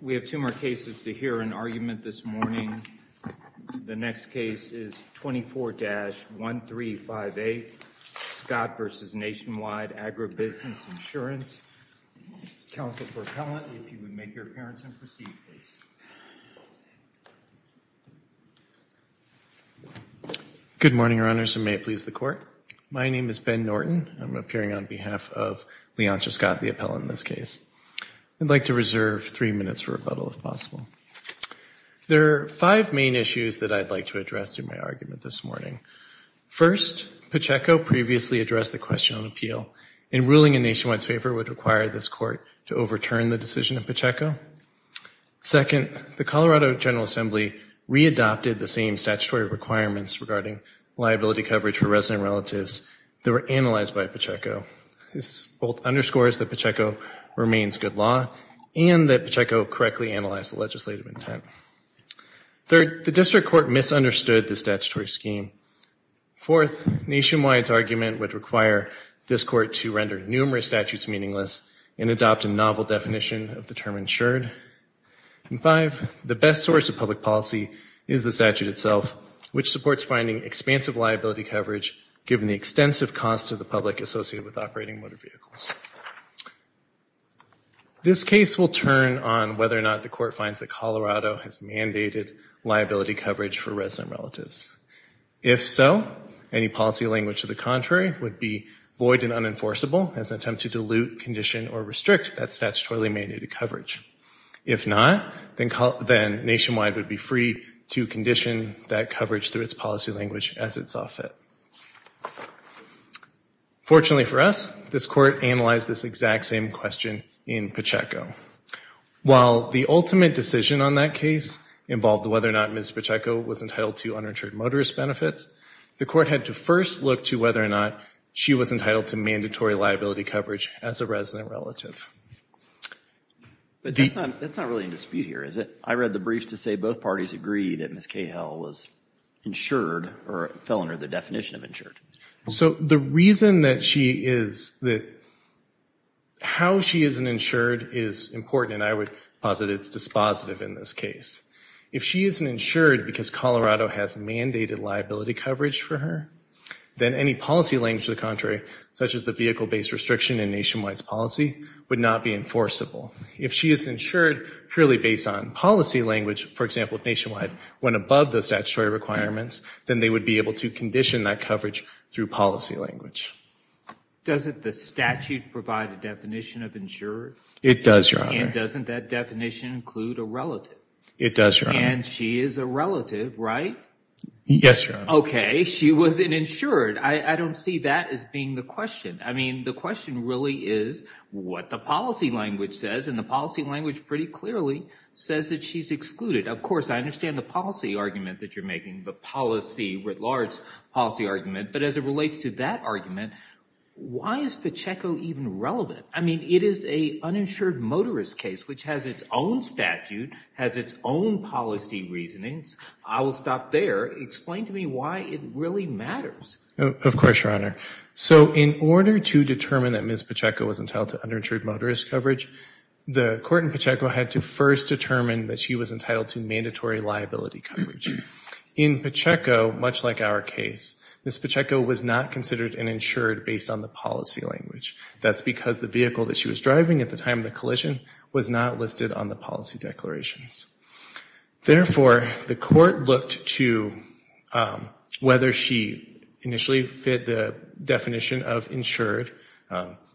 We have two more cases to hear an argument this morning. The next case is 24-135A, Scott v. Nationwide Agribusiness Insurance. Counsel for Appellant, if you would make your appearance and proceed, please. Good morning, your honors, and may it please the court. My name is Ben Norton. I'm appearing on behalf of Leontia Scott, the appellant in this case. I'd like to reserve three minutes for rebuttal, if possible. There are five main issues that I'd like to address in my argument this morning. First, Pacheco previously addressed the question on appeal. In ruling in Nationwide's favor would require this court to overturn the decision of Pacheco. Second, the Colorado General Assembly readopted the same statutory requirements regarding liability coverage for resident relatives that were analyzed by Pacheco. This both underscores that Pacheco remains good law and that Pacheco correctly analyzed the legislative intent. Third, the district court misunderstood the statutory scheme. Fourth, Nationwide's argument would require this court to render numerous statutes meaningless and adopt a novel definition of the term insured. And five, the best source of public policy is the statute itself, which supports finding expansive liability coverage given the extensive cost of the public associated with operating motor vehicles. This case will turn on whether or not the court finds that Colorado has mandated liability coverage for resident relatives. If so, any policy language to the contrary would be void and unenforceable as an attempt to dilute, condition, or restrict that statutorily mandated coverage. If not, then Nationwide would be free to condition that coverage through its policy language as it saw fit. Fortunately for us, this court analyzed this exact same question in Pacheco. While the ultimate decision on that case involved whether or not Ms. Pacheco was entitled to uninsured motorist benefits, the court had to first look to whether or not she was entitled to mandatory liability coverage as a resident relative. But that's not really in dispute here, is it? I read the brief to say both parties agreed that Ms. Cahill was insured or fell under the definition of insured. So the reason that she is, how she is insured is important and I would posit it's dispositive in this case. If she isn't insured because Colorado has mandated liability coverage for her, then any policy language to the contrary, such as the vehicle-based restriction in Nationwide's policy, would not be enforceable. If she is insured purely based on policy language, for example, if Nationwide went above the statutory requirements, then they would be able to condition that coverage through policy language. Doesn't the statute provide a definition of insured? It does, Your Honor. And doesn't that definition include a relative? It does, Your Honor. And she is a relative, right? Yes, Your Honor. Okay, she wasn't insured. I don't see that as being the question. I mean, the question really is what the policy language says and the policy language pretty clearly says that she's excluded. Of course, I understand the policy argument that you're making, the policy, writ large policy argument, but as it relates to that argument, why is Pacheco even relevant? I mean, it is a uninsured motorist case, which has its own statute, has its own policy reasonings. I will stop there. Explain to me why it really matters. Of course, Your Honor. So in order to determine that Ms. Pacheco was entitled to uninsured motorist coverage, the court in Pacheco had to first determine that she was entitled to mandatory liability coverage. In Pacheco, much like our case, Ms. Pacheco was not considered an insured based on the policy language. That's because the vehicle that she was driving at the time of the collision was not listed on the policy declarations. Therefore, the court looked to whether she initially fit the definition of insured,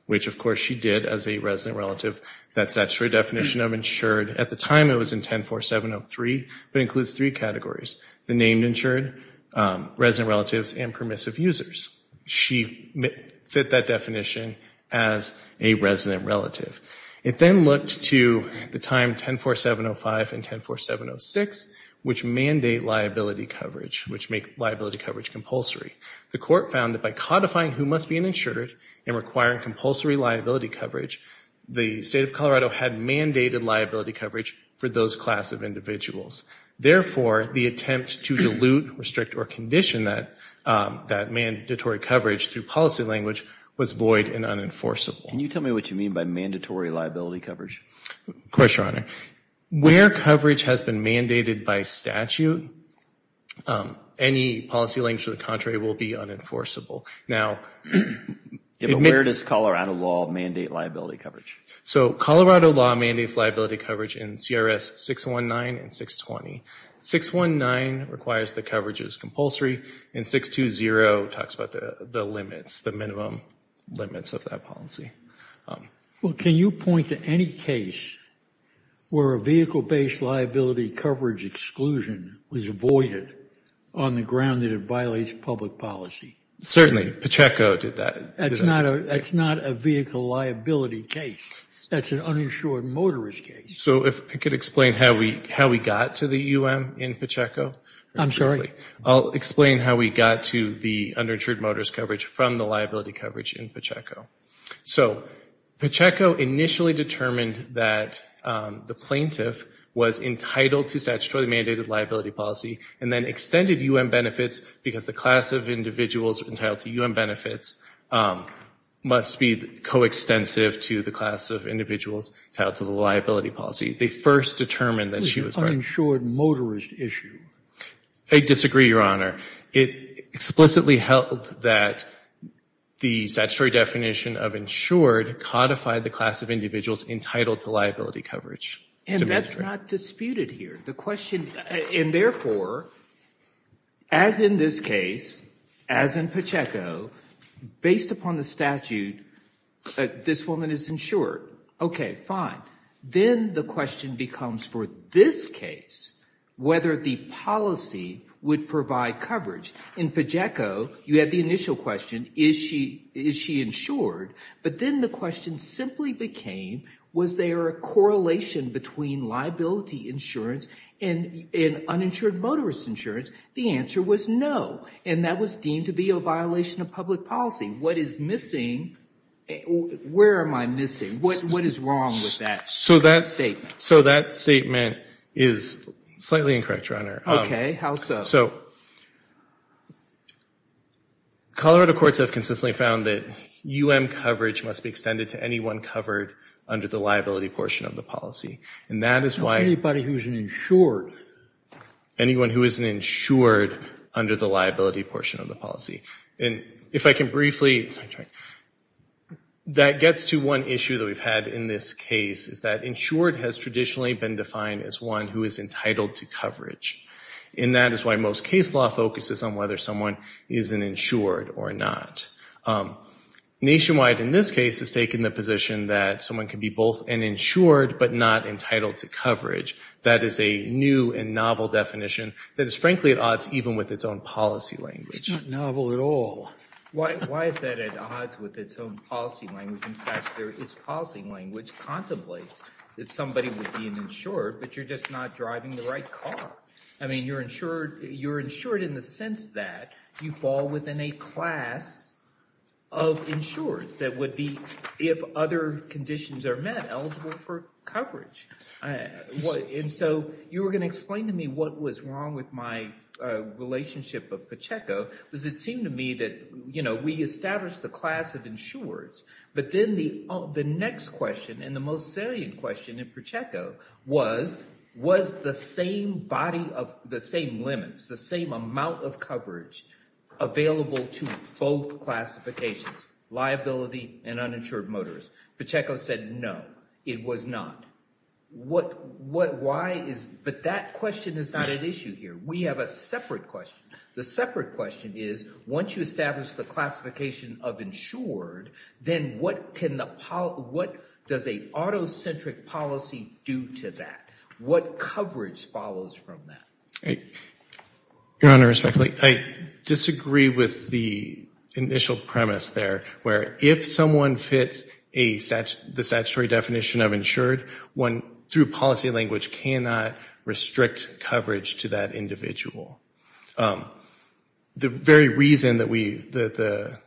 which of course she did as a resident relative, that statutory definition of insured. At the time, it was in 10-4703, but includes three categories, the named insured, resident relatives, and permissive users. She fit that definition as a resident relative. It then looked to the time 10-4705 and 10-4706, which mandate liability coverage, which make liability coverage compulsory. The court found that by codifying who must be an insured and requiring compulsory liability coverage, the state of Colorado had mandated liability coverage for those class of individuals. Therefore, the attempt to dilute, restrict, or condition that mandatory coverage through policy language was void and unenforceable. Can you tell me what you mean by mandatory liability coverage? Of course, Your Honor. Where coverage has been mandated by statute, any policy language to the contrary will be unenforceable. Now, admit- So, Colorado law mandates liability coverage in CRS 619 and 620. 619 requires the coverage as compulsory, and 620 talks about the limits, the minimum limits of that policy. Well, can you point to any case where a vehicle-based liability coverage exclusion was avoided on the ground that it violates public policy? Certainly, Pacheco did that. That's not a vehicle liability case. That's an uninsured motorist case. So, if I could explain how we got to the UM in Pacheco. I'm sorry. I'll explain how we got to the uninsured motorist coverage from the liability coverage in Pacheco. So, Pacheco initially determined that the plaintiff was entitled to statutorily mandated liability policy, and then extended UM benefits because the class of individuals entitled to UM benefits must be coextensive to the class of individuals entitled to the liability policy. They first determined that she was- Uninsured motorist issue. I disagree, Your Honor. It explicitly held that the statutory definition of insured codified the class of individuals entitled to liability coverage. And that's not disputed here. The question, and therefore, as in this case, as in Pacheco, based upon the statute, this woman is insured. Okay, fine. Then the question becomes for this case whether the policy would provide coverage. In Pacheco, you had the initial question, is she insured? But then the question simply became, was there a correlation between liability insurance and uninsured motorist insurance? The answer was no. And that was deemed to be a violation of public policy. What is missing, where am I missing? What is wrong with that statement? So that statement is slightly incorrect, Your Honor. Okay, how so? So, Colorado courts have consistently found that UM coverage must be extended to anyone covered under the liability portion of the policy. And that is why- Not anybody who's insured. Anyone who isn't insured under the liability portion of the policy. And if I can briefly, that gets to one issue that we've had in this case, is that insured has traditionally been defined as one who is entitled to coverage. And that is why most case law focuses on whether someone is an insured or not. Nationwide, in this case, has taken the position that someone can be both an insured but not entitled to coverage. That is a new and novel definition that is frankly at odds even with its own policy language. It's not novel at all. Why is that at odds with its own policy language? In fact, there is policy language contemplates that somebody would be an insured, but you're just not driving the right car. I mean, you're insured in the sense that you fall within a class of insureds that would be, if other conditions are met, eligible for coverage. And so you were gonna explain to me what was wrong with my relationship with Pacheco was it seemed to me that we established the class of insureds, but then the next question and the most salient question in Pacheco was, was the same body of the same limits, the same amount of coverage available to both classifications, liability and uninsured motorists. Pacheco said, no, it was not. But that question is not an issue here. We have a separate question. The separate question is, once you establish the classification of insured, then what does a auto-centric policy do to that? What coverage follows from that? Your Honor, respectfully, I disagree with the initial premise there where if someone fits the statutory definition of insured, one, through policy language, cannot restrict coverage to that individual. The very reason that the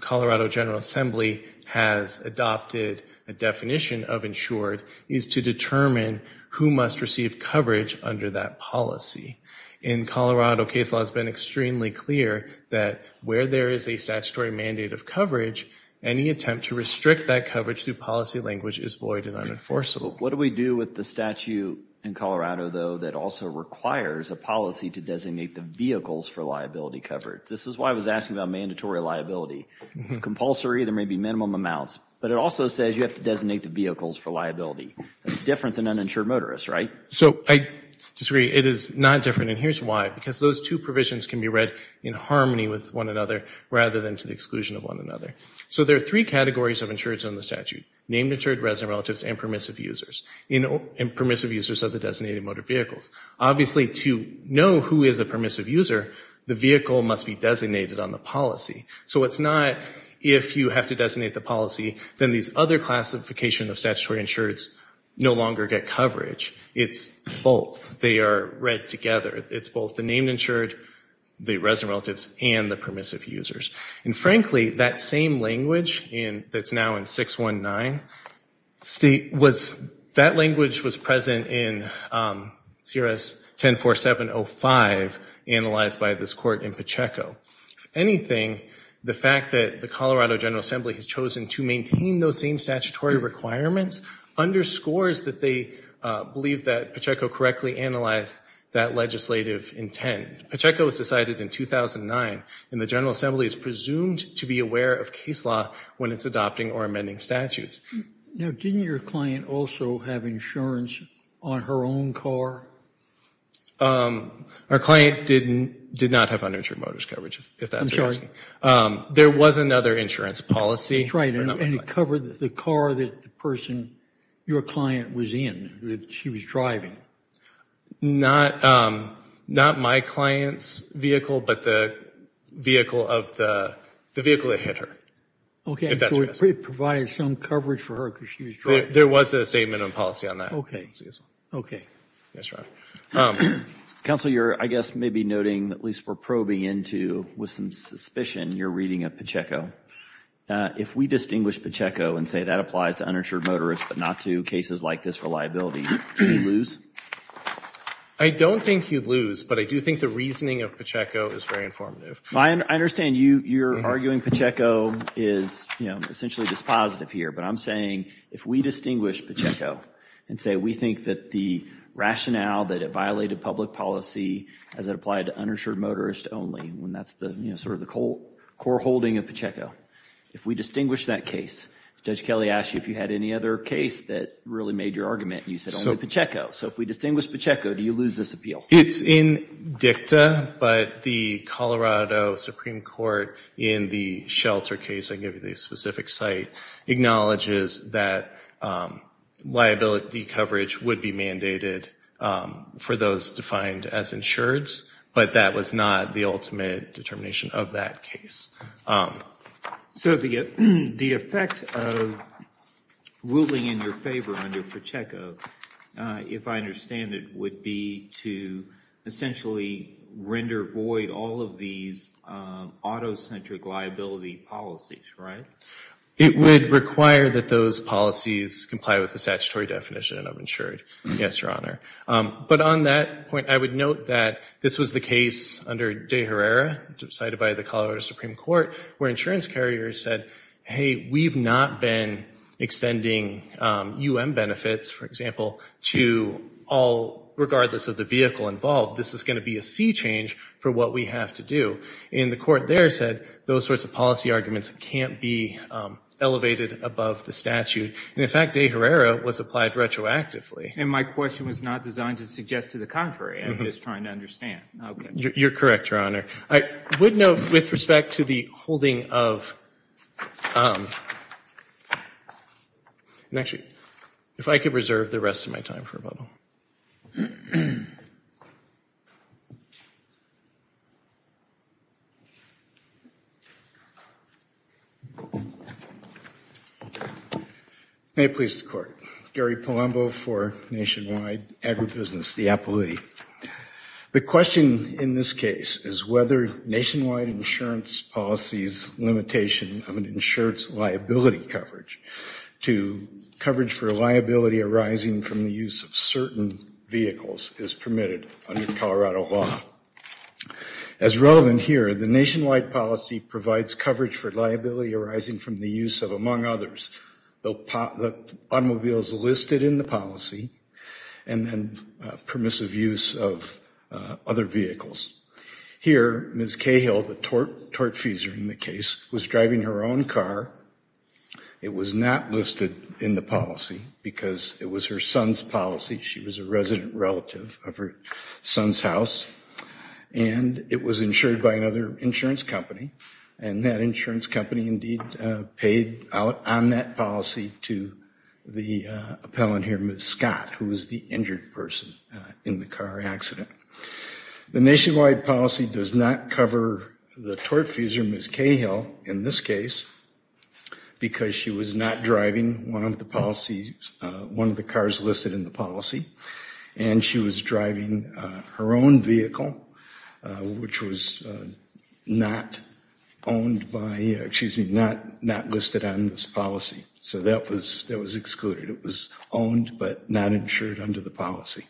Colorado General Assembly has adopted a definition of insured is to determine who must receive coverage under that policy. In Colorado, case law has been extremely clear that where there is a statutory mandate of coverage, any attempt to restrict that coverage through policy language is void and unenforceable. What do we do with the statute in Colorado, though, that also requires a policy to designate the vehicles for liability coverage? This is why I was asking about mandatory liability. It's compulsory, there may be minimum amounts, but it also says you have to designate the vehicles for liability. That's different than uninsured motorists, right? So I disagree, it is not different, and here's why. Because those two provisions can be read in harmony with one another rather than to the exclusion of one another. So there are three categories of insureds on the statute, named insured resident relatives and permissive users, and permissive users of the designated motor vehicles. Obviously, to know who is a permissive user, the vehicle must be designated on the policy. So it's not if you have to designate the policy, then these other classification of statutory insureds no longer get coverage. It's both, they are read together. It's both the named insured, the resident relatives, and the permissive users. And frankly, that same language that's now in 619, that language was present in CRS 10.4705, analyzed by this court in Pacheco. If anything, the fact that the Colorado General Assembly has chosen to maintain those same statutory requirements underscores that they believe that Pacheco correctly analyzed that legislative intent. Pacheco was decided in 2009, and the General Assembly is presumed to be aware of case law when it's adopting or amending statutes. Now, didn't your client also have insurance on her own car? Our client did not have uninsured motorist coverage, if that's what you're asking. There was another insurance policy. That's right, and it covered the car that the person, your client was in, that she was driving. Not my client's vehicle, but the vehicle that hit her, if that's what you're asking. Okay, so it provided some coverage for her because she was driving. There was a statement of policy on that. Okay, okay. That's right. Counsel, you're, I guess, maybe noting, at least we're probing into, with some suspicion, you're reading at Pacheco. If we distinguish Pacheco and say that applies to uninsured motorist, but not to cases like this for liability, do we lose? I don't think you'd lose, but I do think the reasoning of Pacheco is very informative. I understand you're arguing Pacheco is essentially dispositive here, but I'm saying if we distinguish Pacheco and say we think that the rationale that it violated public policy as it applied to uninsured motorist only, when that's sort of the core holding of Pacheco, if we distinguish that case, Judge Kelly asked you if you had any other case that really made your argument, and you said only Pacheco. So if we distinguish Pacheco, do you lose this appeal? It's in dicta, but the Colorado Supreme Court in the shelter case, I give you the specific site, acknowledges that liability coverage would be mandated for those defined as insureds, but that was not the ultimate determination of that case. So the effect of ruling in your favor under Pacheco, if I understand it, would be to essentially render void all of these auto-centric liability policies, right? It would require that those policies comply with the statutory definition of insured, yes, Your Honor. But on that point, I would note that this was the case under De Herrera, decided by the Colorado Supreme Court, where insurance carriers said, hey, we've not been extending UM benefits, for example, to all, regardless of the vehicle involved. This is gonna be a sea change for what we have to do. And the court there said, those sorts of policy arguments can't be elevated above the statute. And in fact, De Herrera was applied retroactively. And my question was not designed to suggest to the contrary. I'm just trying to understand. You're correct, Your Honor. I would note, with respect to the holding of, and actually, if I could reserve the rest of my time for rebuttal. May it please the Court. Gary Palumbo for Nationwide Agribusiness, the appealee. The question, in this case, is whether Nationwide Insurance Policy's limitation of an insurance liability coverage to coverage for liability arising from the use of certain vehicles is permitted under Colorado law. As relevant here, the Nationwide Policy provides coverage for liability arising from the use of, among others, the automobiles listed in the policy, and then permissive use of other vehicles. Here, Ms. Cahill, the tortfeasor in the case, was driving her own car. It was not listed in the policy because it was her son's policy. She was a resident relative of her son's house. And it was insured by another insurance company. And that insurance company indeed paid out on that policy to the appellant here, Ms. Scott, who was the injured person in the car accident. The Nationwide Policy does not cover the tortfeasor, Ms. Cahill, in this case, because she was not driving one of the policies, one of the cars listed in the policy. And she was driving her own vehicle, which was not owned by, excuse me, not listed on this policy. So that was excluded. It was owned, but not insured under the policy.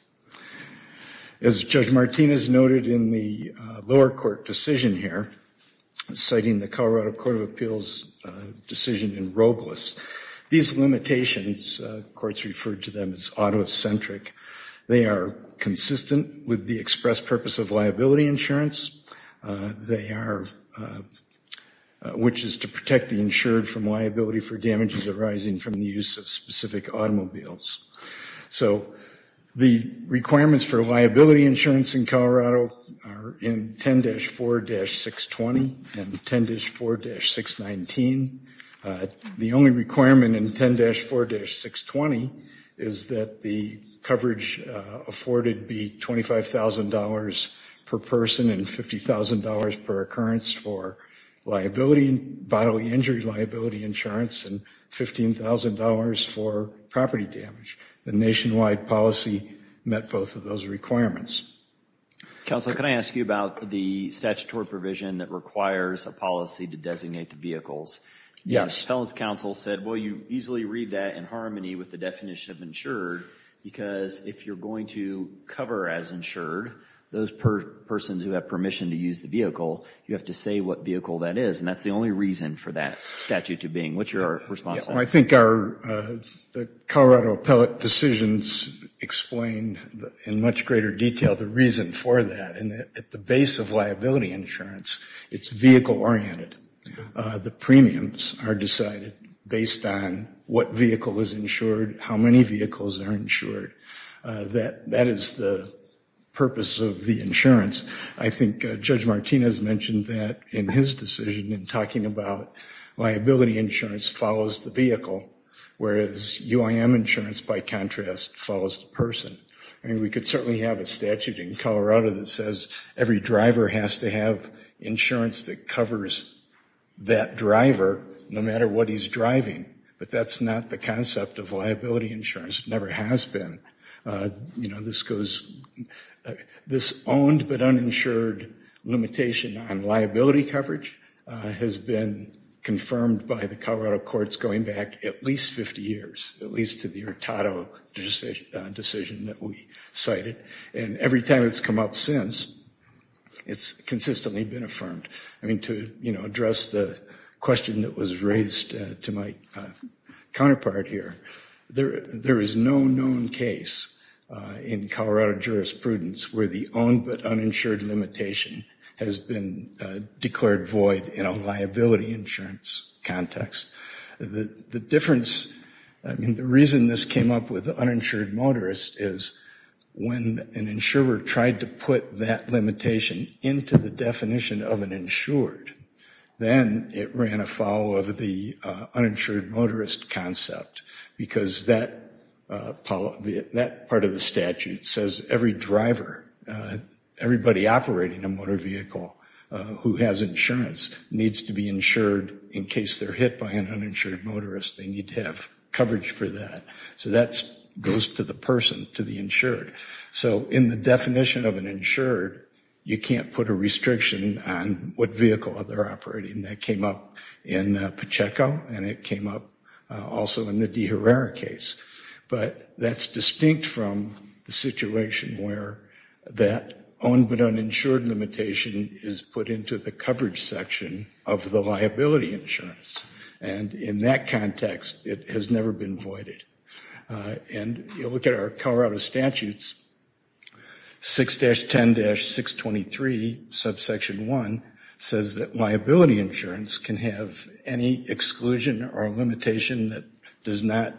As Judge Martinez noted in the lower court decision here, citing the Colorado Court of Appeals decision in Robles, these limitations, courts referred to them as auto-centric, they are consistent with the express purpose of liability insurance, which is to protect the insured from liability for damages arising from the use of specific automobiles. So the requirements for liability insurance in Colorado are in 10-4-620 and 10-4-619. The only requirement in 10-4-620 is that the coverage afforded be $25,000 per person and $50,000 per occurrence for liability, bodily injury liability insurance, and $15,000 for property damage. The nationwide policy met both of those requirements. Council, can I ask you about the statutory provision that requires a policy to designate the vehicles? Yes. Council said, well, you easily read that in harmony with the definition of insured, because if you're going to cover as insured, those persons who have permission to use the vehicle, you have to say what vehicle that is, and that's the only reason for that statute to be in. What's your response to that? I think our Colorado appellate decisions explain in much greater detail the reason for that, and at the base of liability insurance, it's vehicle-oriented. The premiums are decided based on what vehicle is insured, how many vehicles are insured. That is the purpose of the insurance. I think Judge Martinez mentioned that in his decision in talking about liability insurance follows the vehicle, whereas UIM insurance, by contrast, follows the person. I mean, we could certainly have a statute in Colorado that says every driver has to have insurance that covers that driver, no matter what he's driving, but that's not the concept of liability insurance. It never has been. This goes, this owned but uninsured limitation on liability coverage has been confirmed by the Colorado courts going back at least 50 years, at least to the Hurtado decision that we cited, and every time it's come up since, it's consistently been affirmed. I mean, to address the question that was raised to my counterpart here, there is no known case in Colorado jurisprudence where the owned but uninsured limitation has been declared void in a liability insurance context. The difference, I mean, the reason this came up with uninsured motorist is when an insurer tried to put that limitation into the definition of an insured, then it ran afoul of the uninsured motorist concept because that part of the statute says every driver everybody operating a motor vehicle who has insurance needs to be insured in case they're hit by an uninsured motorist. They need to have coverage for that. So that goes to the person, to the insured. So in the definition of an insured, you can't put a restriction on what vehicle that they're operating. That came up in Pacheco, and it came up also in the De Herrera case, but that's distinct from the situation where that owned but uninsured limitation is put into the coverage section of the liability insurance. And in that context, it has never been voided. And you look at our Colorado statutes, 6-10-623, subsection one, says that liability insurance can have any exclusion or limitation that does not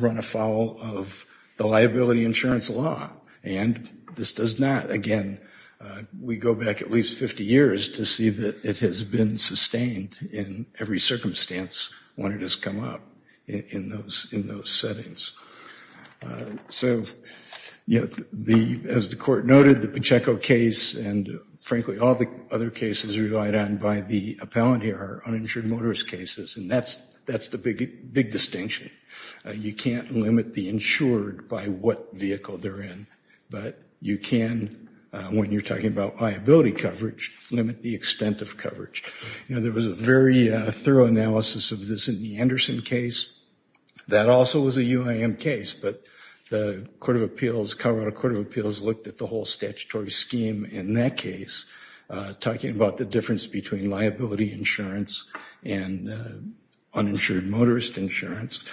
run afoul of the liability insurance law. And this does not, again, we go back at least 50 years to see that it has been sustained in every circumstance when it has come up in those settings. So as the Court noted, the Pacheco case and frankly all the other cases relied on by the appellant here are uninsured motorist cases, and that's the big distinction. You can't limit the insured by what vehicle they're in, but you can, when you're talking about liability coverage, limit the extent of coverage. There was a very thorough analysis of this in the Anderson case. That also was a UIM case, but the Court of Appeals, Colorado Court of Appeals looked at the whole statutory scheme in that case, talking about the difference between liability insurance and uninsured motorist insurance.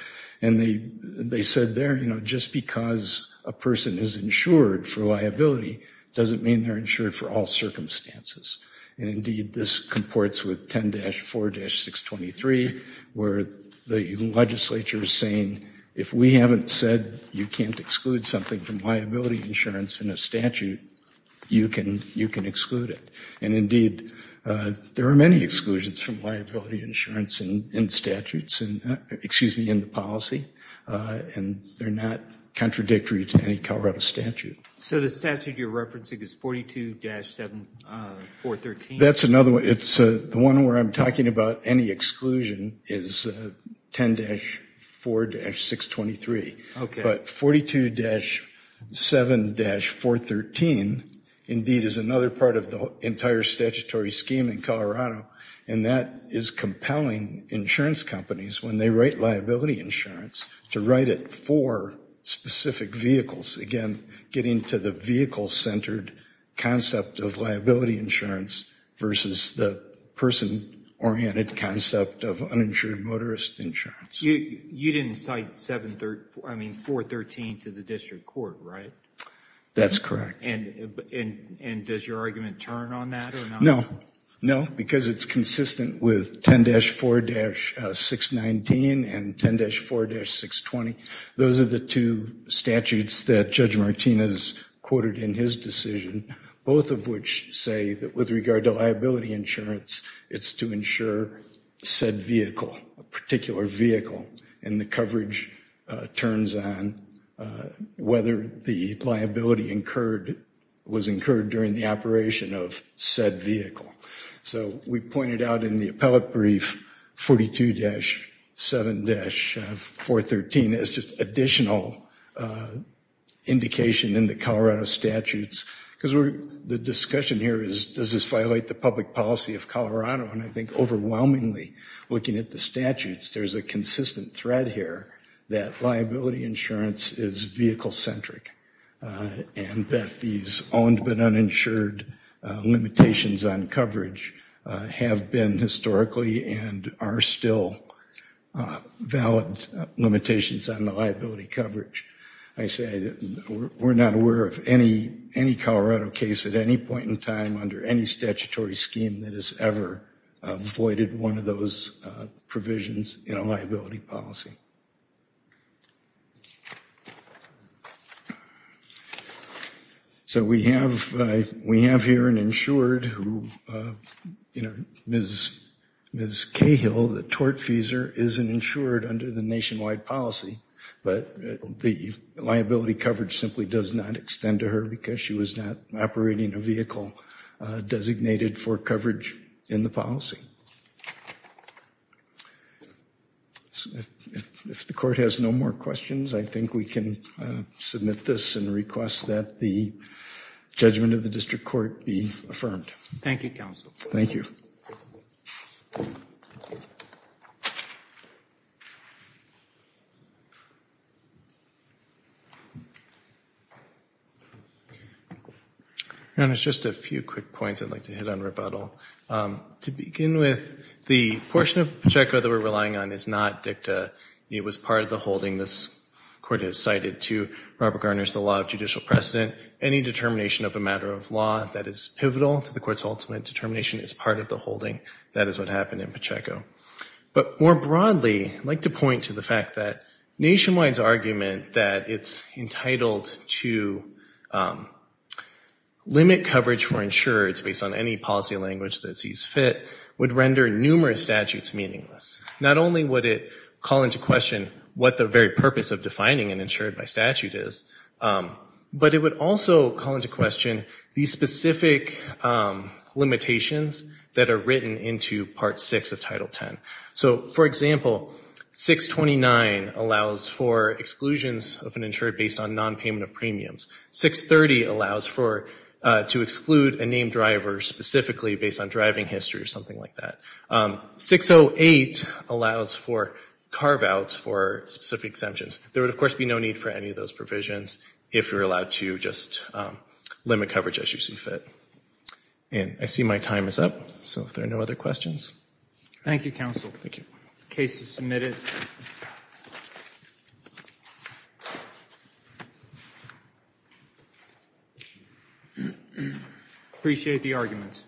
And they said there, just because a person is insured for liability doesn't mean they're insured for all circumstances. And indeed, this comports with 10-4-623, where the legislature is saying, if we haven't said you can't exclude something from liability insurance in a statute, you can exclude it. And indeed, there are many exclusions from liability insurance in statutes, excuse me, in the policy, and they're not contradictory to any Colorado statute. So the statute you're referencing is 42-7-413? That's another one. It's the one where I'm talking about any exclusion is 10-4-623. Okay. But 42-7-413, indeed, is another part of the entire statutory scheme in Colorado, and that is compelling insurance companies, when they write liability insurance, to write it for specific vehicles. Again, getting to the vehicle-centered concept of liability insurance versus the person-oriented concept of uninsured motorist insurance. You didn't cite 413 to the district court, right? That's correct. And does your argument turn on that or not? No, no, because it's consistent with 10-4-619 and 10-4-620. Those are the two statutes that Judge Martinez quoted in his decision, both of which say that with regard to liability insurance, it's to insure said vehicle, a particular vehicle, and the coverage turns on whether the liability incurred was incurred during the operation of said vehicle. So we pointed out in the appellate brief, 42-7-413 is just additional indication in the Colorado statutes, because the discussion here is, does this violate the public policy of Colorado? And I think, overwhelmingly, looking at the statutes, there's a consistent thread here that liability insurance is vehicle-centric, and that these owned but uninsured limitations on coverage have been historically and are still valid limitations on the liability coverage. I say that we're not aware of any Colorado case at any point in time under any statutory scheme that has ever avoided one of those provisions in a liability policy. So we have here an insured, Ms. Cahill, the tortfeasor, is an insured under the nationwide policy, but the liability coverage simply does not extend to her because she was not operating a vehicle designated for coverage in the policy. If the Court has no more questions, I think we can submit this and request that the judgment of the District Court be affirmed. Thank you, Counsel. Thank you. And it's just a few quick points I'd like to hit on rebuttal. To begin with, the portion of Pacheco that we're relying on is not DICTA. It was part of the holding this Court has cited to Robert Garner's The Law of Judicial Precedent. Any determination of a matter of law that is pivotal to the Court's ultimate determination is part of the holding. That is what happened in Pacheco. But more broadly, I'd like to point to the fact that Nationwide's argument that it's entitled to limit coverage for insureds based on any policy language that sees fit would render numerous statutes meaningless. Not only would it call into question what the very purpose of defining an insured by statute is, but it would also call into question the specific limitations that are written into Part 6 of Title 10. So, for example, 629 allows for exclusions of an insured based on non-payment of premiums. 630 allows to exclude a named driver specifically based on driving history or something like that. 608 allows for carve-outs for specific exemptions. There would, of course, be no need for any of those provisions if you're allowed to just limit coverage as you see fit. And I see my time is up, so if there are no other questions. Thank you, Counsel. Thank you. Case is submitted. Appreciate the arguments. Thank you.